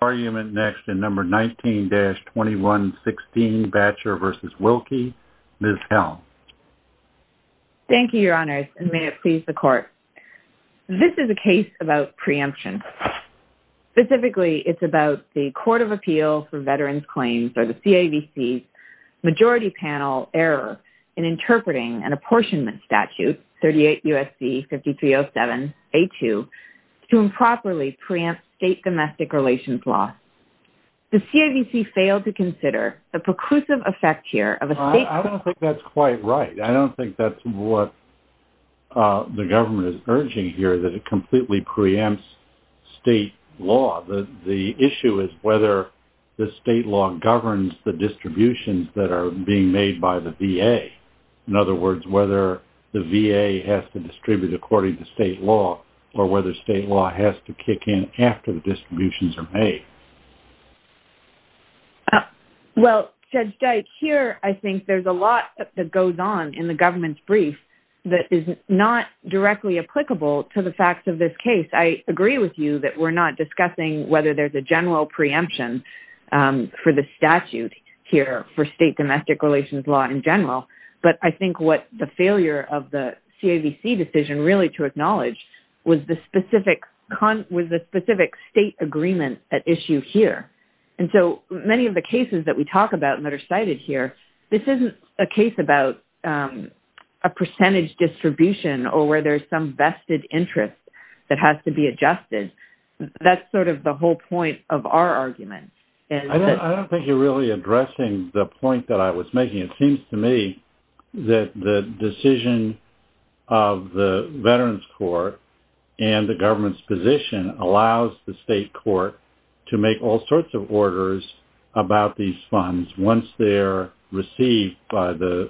Argument next in number 19-2116 Batcher v. Wilkie. Ms. Helm. Thank you, your honors, and may it please the court. This is a case about preemption. Specifically, it's about the Court of Appeal for Veterans Claims or the CAVC's majority panel error in interpreting an apportionment statute, 38 U.S.C. 5307-A2, to improperly preempt state domestic relations law. The CAVC failed to consider the preclusive effect here of a state I don't think that's quite right. I don't think that's what the government is urging here, that it completely preempts state law. The issue is whether the state law governs the distributions that are being made by the VA. In other words, whether the VA has to Well, Judge Dyke, here I think there's a lot that goes on in the government's brief that is not directly applicable to the facts of this case. I agree with you that we're not discussing whether there's a general preemption for the statute here for state domestic relations law in general, but I think what the failure of the CAVC decision really to acknowledge was the specific state agreement at issue here. And so many of the cases that we talk about that are cited here, this isn't a case about a percentage distribution or where there's some vested interest that has to be adjusted. That's sort of the whole point of our argument. I don't think you're really addressing the point that I was making. It seems to me that the decision of the Veterans Court and the government's position allows the state court to make all sorts of orders about these funds once they're received by the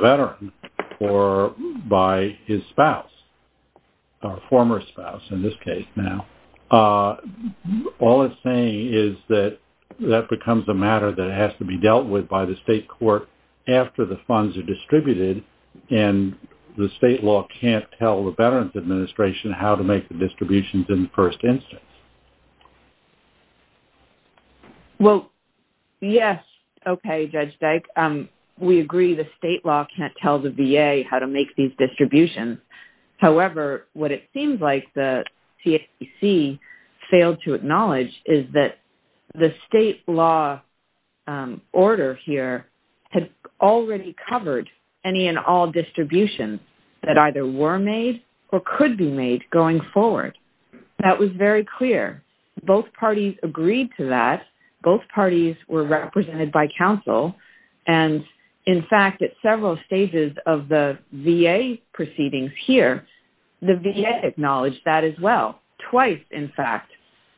veteran or by his spouse or former spouse in this case now. All it's saying is that that becomes a matter that has to be dealt with by the state court after the funds are distributed and the state law can't tell the Veterans Administration how to make the distributions in the first instance. Well, yes. Okay, Judge Dyke. We agree the state law can't tell the VA how to make these distributions. However, what it seems like the CAVC failed to acknowledge is that the state law order here had already covered any and all distributions that either were made or could be made going forward. That was very clear. Both parties agreed to that. Both parties were represented by counsel. And in fact, at several stages of the VA proceedings here, the VA acknowledged that as well. Twice, in fact,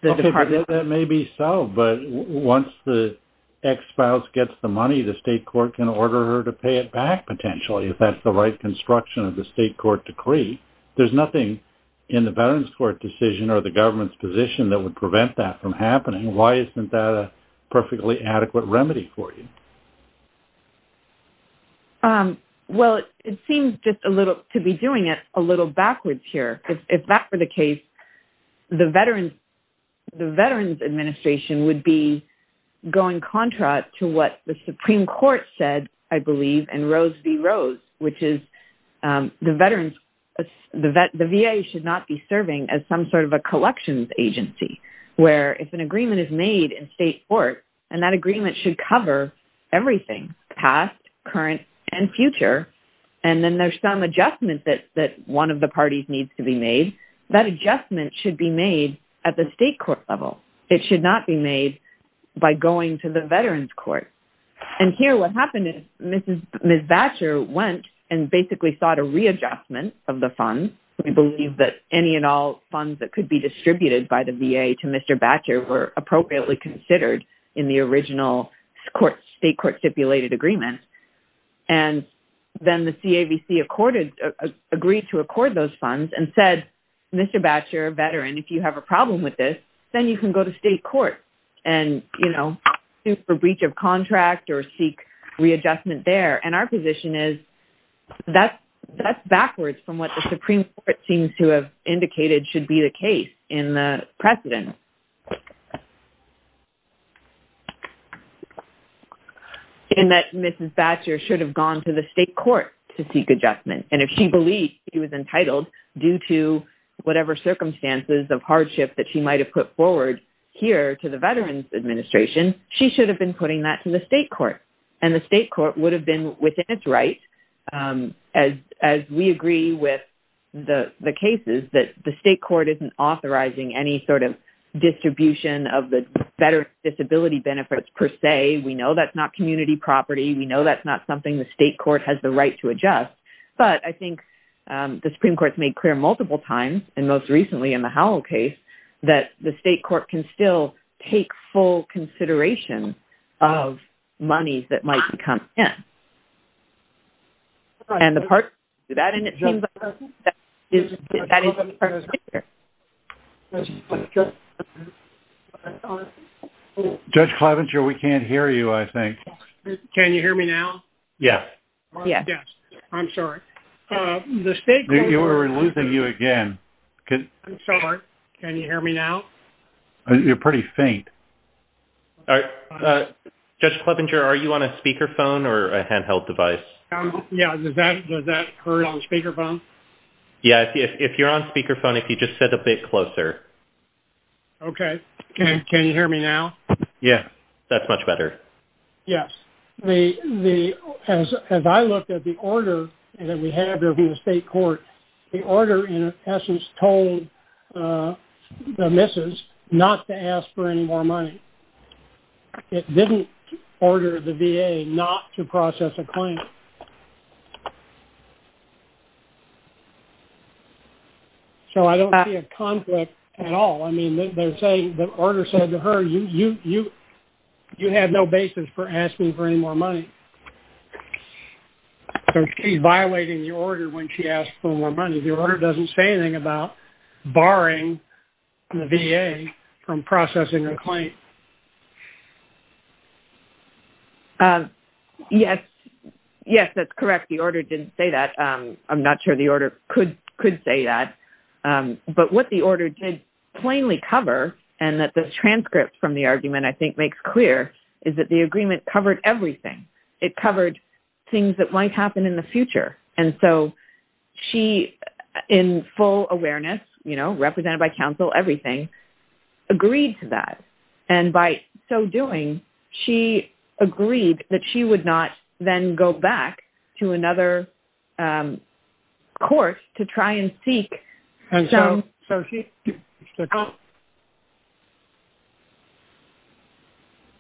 the department... That may be so, but once the ex-spouse gets the money, the state court can order her to pay it back potentially if that's the right construction of the state court decree. There's nothing in the Veterans Court decision or the government's position that would prevent that from happening. Why isn't that a perfectly adequate remedy for you? Well, it seems just a little... to be doing it a little backwards here. If that were the case, the Veterans Administration would be going contra to what the Supreme Court said, I believe, in Rose v. Rose, which is the VA should not be serving as some sort of a collections agency, where if an agreement is made in state court and that agreement should cover everything, past, current, and future, and then there's some adjustment that one of the parties needs to be made, that adjustment should be made at the state court level. It should not be made by going to the Veterans Court. And here what happened is Ms. Batcher went and basically sought a readjustment of the funds. We believe that any and all funds that could be distributed by the VA to Mr. Batcher were appropriately considered in the original state court stipulated agreement. And then the CAVC agreed to accord those funds and said, Mr. Batcher, a veteran, if you have a problem with this, then you can go to state court and sue for breach of contract or seek readjustment there. And our position is that's backwards from what the Supreme Court seems to have indicated should be the case in the precedent. And that Mrs. Batcher should have gone to the state court to seek adjustment. And if she believed she was entitled due to whatever circumstances of hardship that she might have put forward here to the Veterans Administration, she should have been putting that to the state court. And the state court would have been within its right as we agree with the cases that the state court isn't authorizing any sort of distribution of the better disability benefits per se. We know that's not community property. We know that's not something the state court has the right to adjust. But I think the Supreme Court's made clear multiple times and most recently in the Howell case that the state court can still take full consideration of money that might come in. Judge Clevenger, we can't hear you, I think. Can you hear me now? Yes. Yes. Yes. I'm sorry. The state court... We're losing you again. I'm sorry. Can you hear me now? You're pretty faint. Judge Clevenger, are you on a speakerphone or a handheld device? Yeah. Does that hurt on speakerphone? Yeah. If you're on speakerphone, if you just sit a bit closer. Okay. Can you hear me now? Yeah. That's much better. Yes. As I looked at the order that we have in the state court, the order in essence told the missus not to ask for any more money. It didn't order the VA not to process a claim. So I don't see a conflict at all. I mean, they're saying... The order said to her, you have no basis for asking for any more money. So she's violating the order when she asked for more money. The order doesn't say anything about barring the VA from processing a claim. Yes. Yes, that's correct. The order didn't say that. I'm not sure the order could say that. But what the order did plainly cover and that the transcript from the argument, I think, makes clear is that the agreement covered everything. It covered things that might happen in the future. And so she, in full awareness, represented by counsel, everything, agreed to that. And by so doing, she agreed that she would not then go back to another course to try and seek...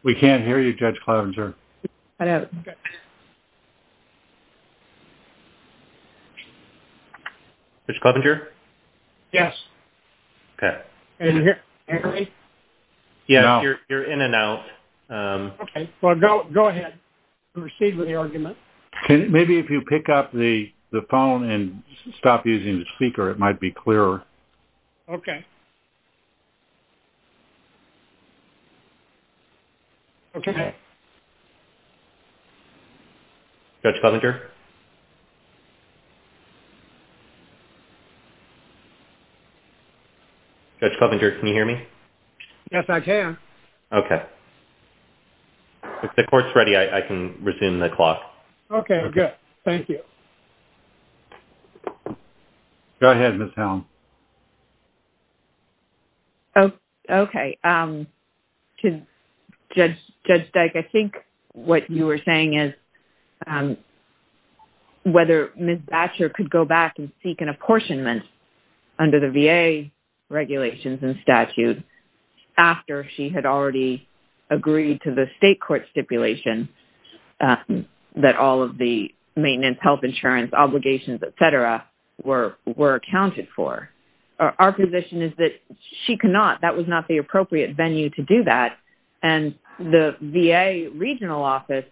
We can't hear you, Judge Clevenger. Judge Clevenger? Yes. Okay. Can you hear me? Yeah, you're in and out. Okay. Well, go ahead. Proceed with the argument. Maybe if you pick up the phone and stop using the speaker, it might be clearer. Okay. Okay. Judge Clevenger? Judge Clevenger, can you hear me? Yes, I can. Okay. If the court's ready, I can resume the clock. Okay, good. Thank you. Go ahead, Ms. Helm. Okay. Judge Dyke, I think what you were saying is whether Ms. Batcher could go back and seek an apportionment under the VA regulations and statute after she had already agreed to the maintenance, health insurance, obligations, et cetera, were accounted for. Our position is that that was not the appropriate venue to do that, and the VA regional office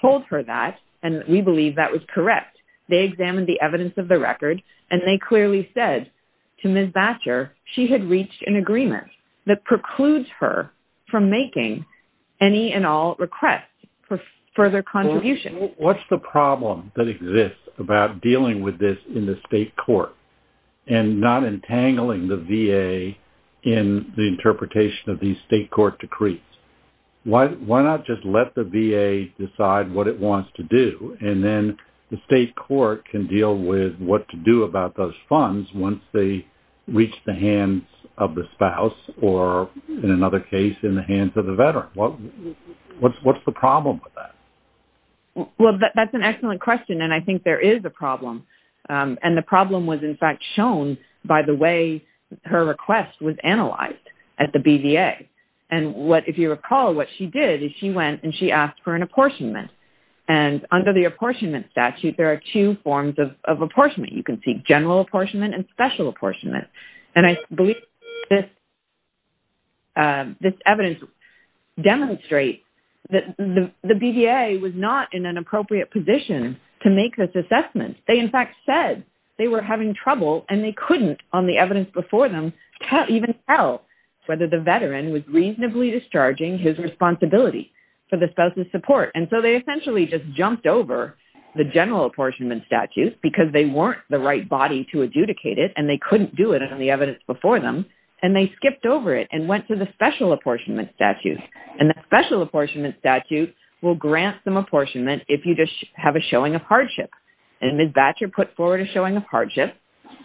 told her that, and we believe that was correct. They examined the evidence of the record, and they clearly said to Ms. Batcher she had reached an agreement that precludes her from making any and all requests for further contribution. What's the problem that exists about dealing with this in the state court and not entangling the VA in the interpretation of these state court decrees? Why not just let the VA decide what it wants to do, and then the state court can deal with what to do about those funds once they reach the hands of the spouse or, in another case, in the hands of the veteran? What's the problem with that? Well, that's an excellent question, and I think there is a problem. And the problem was, in fact, shown by the way her request was analyzed at the BVA. And if you recall, what she did is she went and she asked for an apportionment. And under the apportionment statute, there are two forms of apportionment. You can seek general apportionment and special apportionment. And I believe this evidence demonstrates that the BVA was not in an appropriate position to make this assessment. They, in fact, said they were having trouble, and they couldn't, on the evidence before them, even tell whether the veteran was reasonably discharging his responsibility for the spouse's support. And so they essentially just jumped over the general apportionment statute because they weren't the right body to adjudicate it, and they couldn't do it on the evidence before them. And they skipped over it and went to the special apportionment statute. And the special apportionment statute will grant some apportionment if you just have a showing of hardship. And Ms. Batcher put forward a showing of hardship.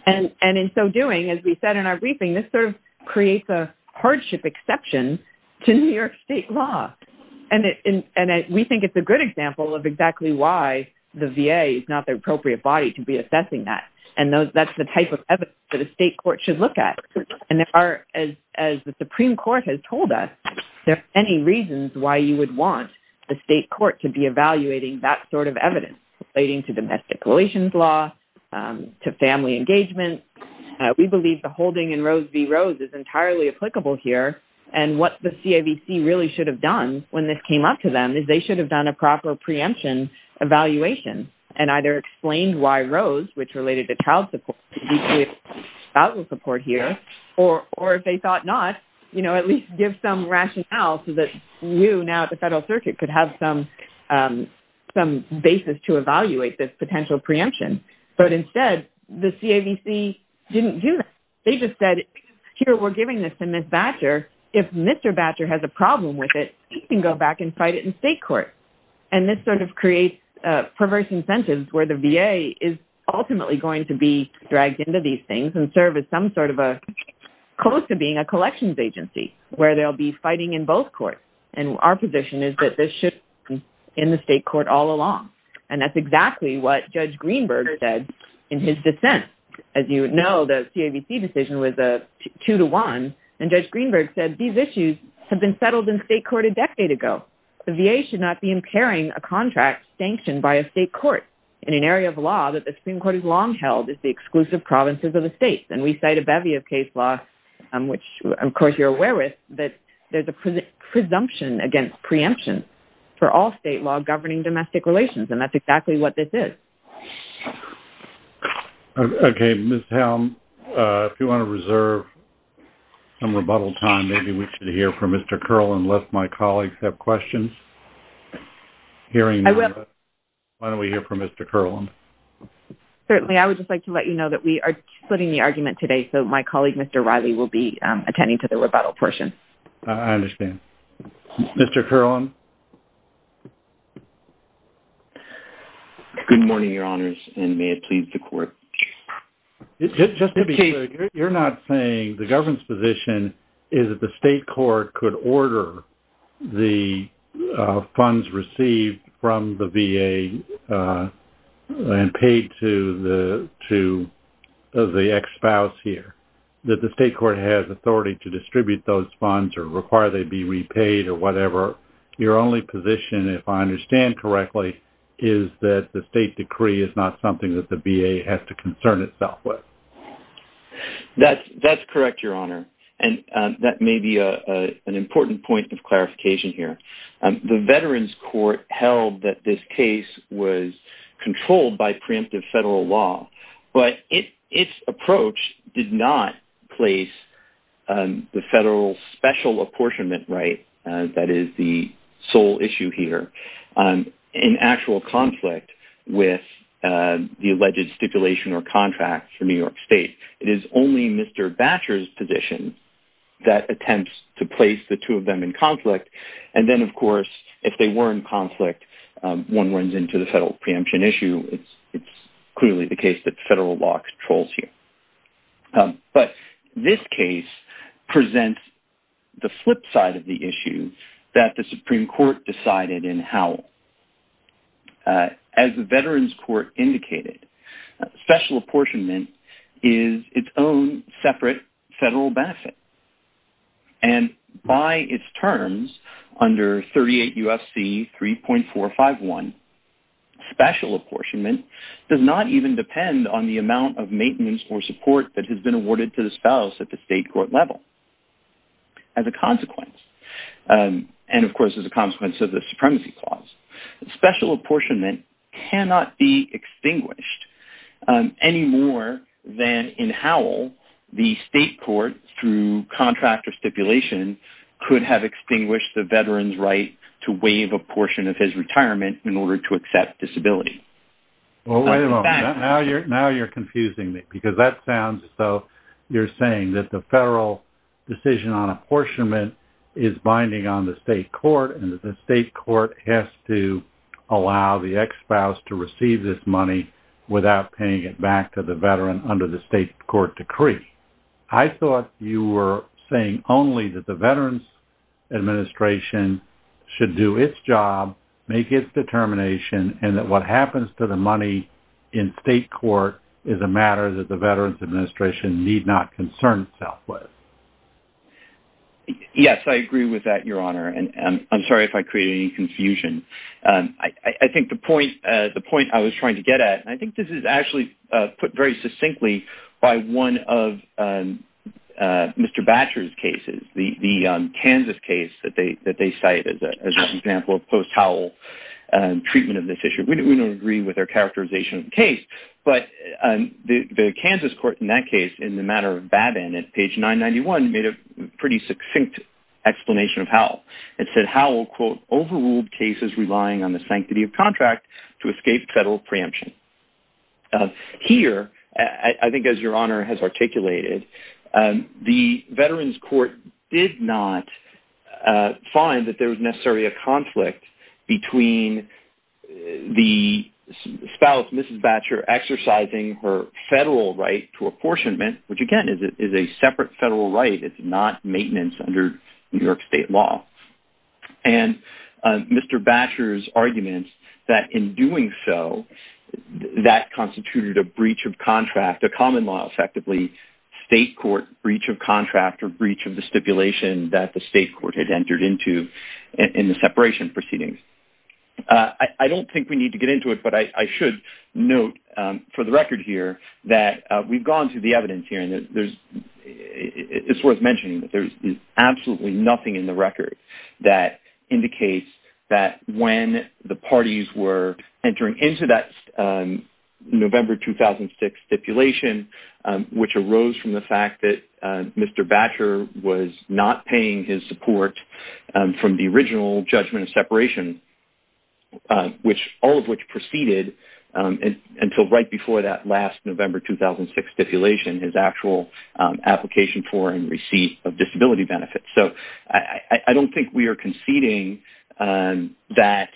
And in so doing, as we said in our briefing, this sort of creates a hardship exception to New York state law. And we think it's a good example of exactly why the VA is not the evidence that a state court should look at. And as the Supreme Court has told us, there are many reasons why you would want the state court to be evaluating that sort of evidence relating to domestic relations law, to family engagement. We believe the holding in Rose v. Rose is entirely applicable here. And what the CAVC really should have done when this came up to them is they should have done a proper preemption evaluation and either explained why Rose, which I will support here, or if they thought not, you know, at least give some rationale so that you now at the federal circuit could have some basis to evaluate this potential preemption. But instead, the CAVC didn't do that. They just said, here, we're giving this to Ms. Batcher. If Mr. Batcher has a problem with it, he can go back and fight it in state court. And this sort of creates perverse incentives where the VA is ultimately going to be dragged into these things and serve as some sort of a close to being a collections agency where they'll be fighting in both courts. And our position is that this should be in the state court all along. And that's exactly what Judge Greenberg said in his dissent. As you know, the CAVC decision was a two to one. And Judge Greenberg said, these issues have been settled in state court a decade ago. The VA should not be impairing a contract sanctioned by a state court in an area of law that the Supreme Court has long held is the exclusive provinces of the state. And we cite a bevy of case law, which, of course, you're aware of, that there's a presumption against preemption for all state law governing domestic relations. And that's exactly what this is. Okay, Ms. Helm, if you want to reserve some rebuttal time, maybe we should hear from Mr. Curlin, unless my colleagues have questions. Hearing none, why don't we hear from Mr. Curlin? Certainly, I would just like to let you know that we are splitting the argument today. So my colleague, Mr. Riley, will be attending to the rebuttal portion. I understand. Mr. Curlin? Good morning, Your Honors, and may it please the court. Just to be clear, you're not saying the government's position is that the state court could order the funds received from the VA and paid to the ex-spouse here, that the state court has authority to distribute those funds or require they be repaid or whatever. Your only position, if I understand correctly, is that the state decree is not something that the VA has to concern itself with. That's correct, Your Honor. And that may be an important point of clarification here. The Veterans Court held that this case was controlled by preemptive federal law, but its approach did not place the federal special apportionment right, that is the sole issue here, in actual conflict with the alleged stipulation or contract for New York State. And so, if you look at the federal preemption issue, it's clearly the case that federal law controls here. But this case presents the flip side of the issue that the Supreme Court decided in Howell. As the Veterans Court indicated, special apportionment is its own separate federal benefit. And by its terms under 38 U.S.C. 3.451, special apportionment does not even depend on the amount of maintenance or support that has been awarded to the spouse at the state court level as a consequence. And of course, as a consequence of the supremacy clause, special apportionment cannot be extinguished any more than in Howell, the state court through contract or stipulation could have extinguished the veteran's right to waive a portion of his retirement in order to accept disability. Well, wait a moment. Now you're confusing me because that sounds as though you're saying that the federal decision on apportionment is binding on the state court and that the state court has to allow the ex-spouse to receive this money without paying it back to the veteran under the state court decree. I thought you were saying only that the Veterans Administration should do its job, make its determination, and that what happens to the money in state court is a matter that the Veterans Administration need not concern itself with. Yes, I agree with that, Your Honor, and I'm sorry if I created any confusion. I think the point I was trying to get at, and I think this is actually put very succinctly by one of Mr. Batcher's cases, the Kansas case that they cite as an example of post-Howell treatment of this issue. We don't agree with their characterization of the case, but the Kansas court in that case, in the matter of Babin at page 991, made a pretty succinct explanation of Howell. It said, Howell, quote, overruled cases relying on the sanctity of contract to escape federal preemption. Here, I think as Your Honor has articulated, the Veterans Court did not find that there was a separate federal right. It's not maintenance under New York state law. Mr. Batcher's argument that in doing so, that constituted a breach of contract, a common law effectively, state court breach of contract or breach of the stipulation that the state court had entered into in the separation proceedings. I don't think we need to get into it, but I should note for the record here that we've gone through the evidence here, and it's worth mentioning that there's absolutely nothing in the record that indicates that when the parties were entering into that November 2006 stipulation, which arose from the fact that Mr. Batcher was not paying his until right before that last November 2006 stipulation, his actual application for and receipt of disability benefits. So, I don't think we are conceding that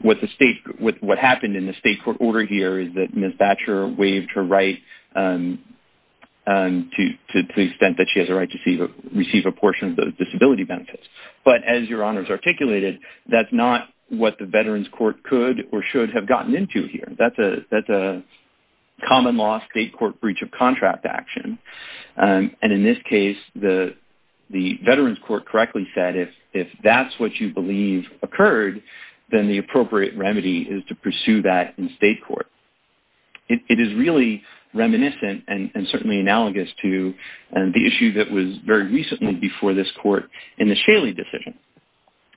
what happened in the state court order here is that Ms. Batcher waived her right to the extent that she has a right to receive a portion of the disability benefits. But as Your Honor has articulated, that's not what the Veterans Court could or should have gotten into here. That's a common law state court breach of contract action. And in this case, the Veterans Court correctly said if that's what you believe occurred, then the appropriate remedy is to pursue that in state court. It is really reminiscent and certainly analogous to the issue that was very recently before this in the Shaley decision.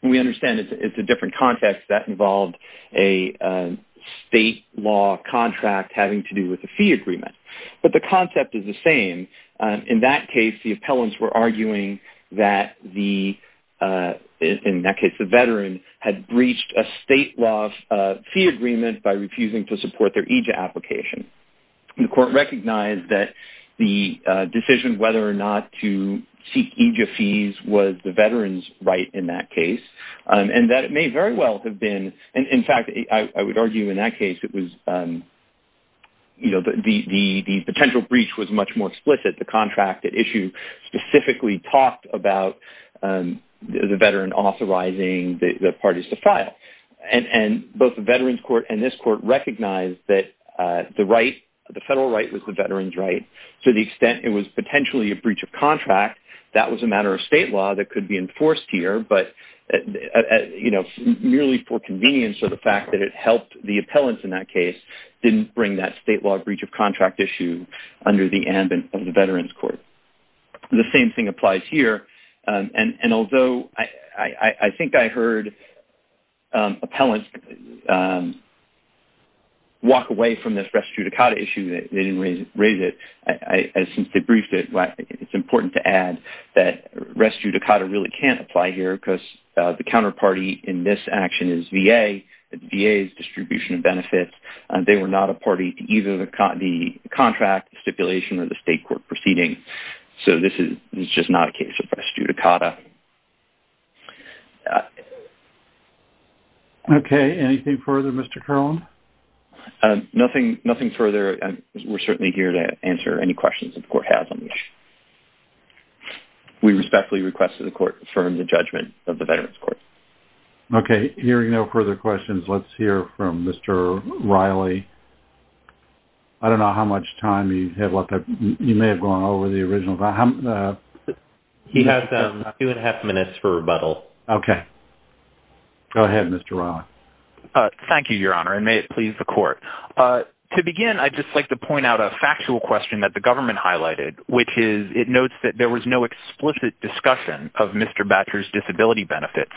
We understand it's a different context that involved a state law contract having to do with the fee agreement. But the concept is the same. In that case, the appellants were arguing that the, in that case, the veteran had breached a state law fee agreement by refusing to support their EJA application. The court recognized that the veteran's right in that case and that it may very well have been. In fact, I would argue in that case, it was, you know, the potential breach was much more explicit. The contract issue specifically talked about the veteran authorizing the parties to file. And both the Veterans Court and this court recognized that the right, the federal right was the veteran's right to the could be enforced here, but, you know, merely for convenience or the fact that it helped the appellants in that case, didn't bring that state law breach of contract issue under the ambit of the Veterans Court. The same thing applies here. And although I think I heard appellants walk away from this res judicata issue, they didn't raise it. Since they briefed it, it's important to add that res judicata really can't apply here because the counterparty in this action is VA. The VA's distribution of benefits, they were not a party to either the contract stipulation or the state court proceeding. So this is just not a case of res judicata. Okay. Anything further, Mr. Carlin? Um, nothing, nothing further. We're certainly here to answer any questions that the court has. We respectfully request that the court confirm the judgment of the Veterans Court. Okay. Hearing no further questions, let's hear from Mr. Riley. I don't know how much time you have left. You may have gone over the original. He has two and a half minutes for rebuttal. Okay. Go ahead, Mr. Riley. Thank you, Your Honor, and may it please the court. To begin, I'd just like to point out a factual question that the government highlighted, which is it notes that there was no explicit discussion of Mr. Batcher's disability benefits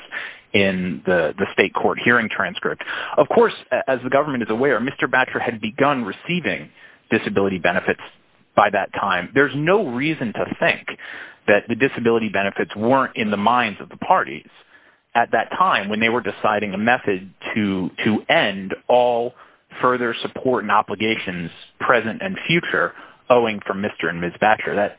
in the state court hearing transcript. Of course, as the government is aware, Mr. Batcher had begun receiving disability benefits by that time. There's no reason to think that the disability benefits weren't in the minds of the parties at that time when they were deciding a method to end all further support and obligations, present and future, owing from Mr. and Ms. Batcher.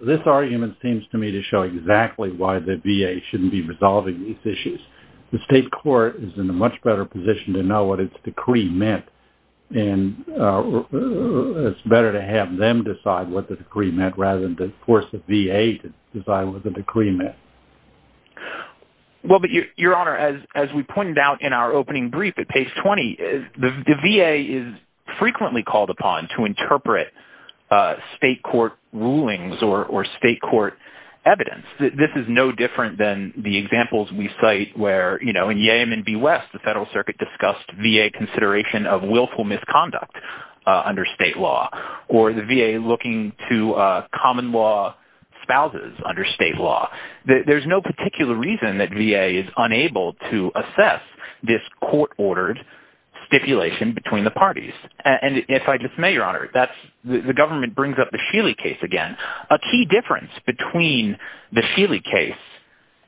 This argument seems to me to show exactly why the VA shouldn't be resolving these issues. The state court is in a much better position to know what its decree meant, and it's better to have them decide what the decree meant rather than to force the VA to decide what the decree meant. Well, but Your Honor, as we pointed out in our opening brief at page 20, the VA is frequently called upon to interpret state court rulings or state court evidence. This is no different than the examples we cite where in Yemen v. West, the federal circuit discussed VA consideration of willful misconduct under state law or the VA looking to common law spouses under state law. There's no particular reason that VA is unable to assess this court-ordered stipulation between the parties. And if I just may, Your Honor, that's the government brings up the Sheely case again. A key difference between the Sheely case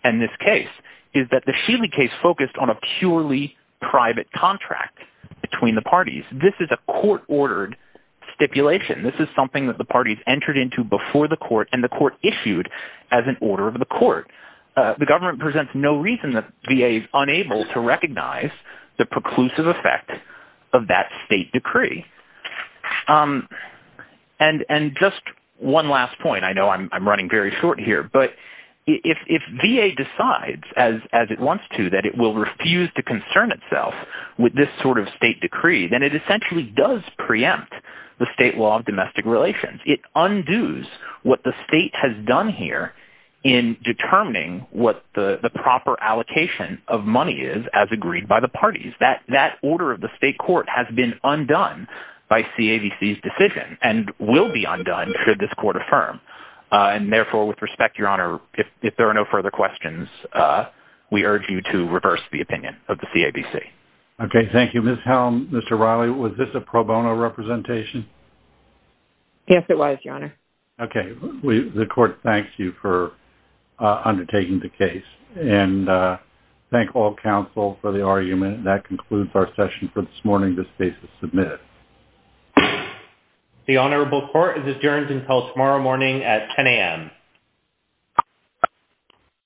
and this case is that the Sheely case focused on a purely private contract between the parties. This is a court-ordered stipulation. This is something that the parties entered into before the court and the court issued as an order of the court. The government presents no reason that VA is unable to recognize the preclusive effect of that state decree. And just one last point, I know I'm running very short here, but if VA decides as it wants to that it will refuse to concern itself with this sort of state decree, then it essentially does preempt the state law of domestic relations. It undoes what the state has done here in determining what the proper allocation of money is as agreed by the parties. That order of the state court has been undone by CABC's decision and will be undone should this court affirm. And therefore, with respect, Your Honor, if there are no further questions, we urge you to reverse the opinion of the CABC. Okay. Thank you, Ms. Helm. Mr. Riley, was this a pro bono representation? Yes, it was, Your Honor. Okay. The court thanks you for undertaking the case and thank all counsel for the argument. That concludes our session for this morning. This case is submitted. The Honorable Court is adjourned until tomorrow morning at 10 a.m.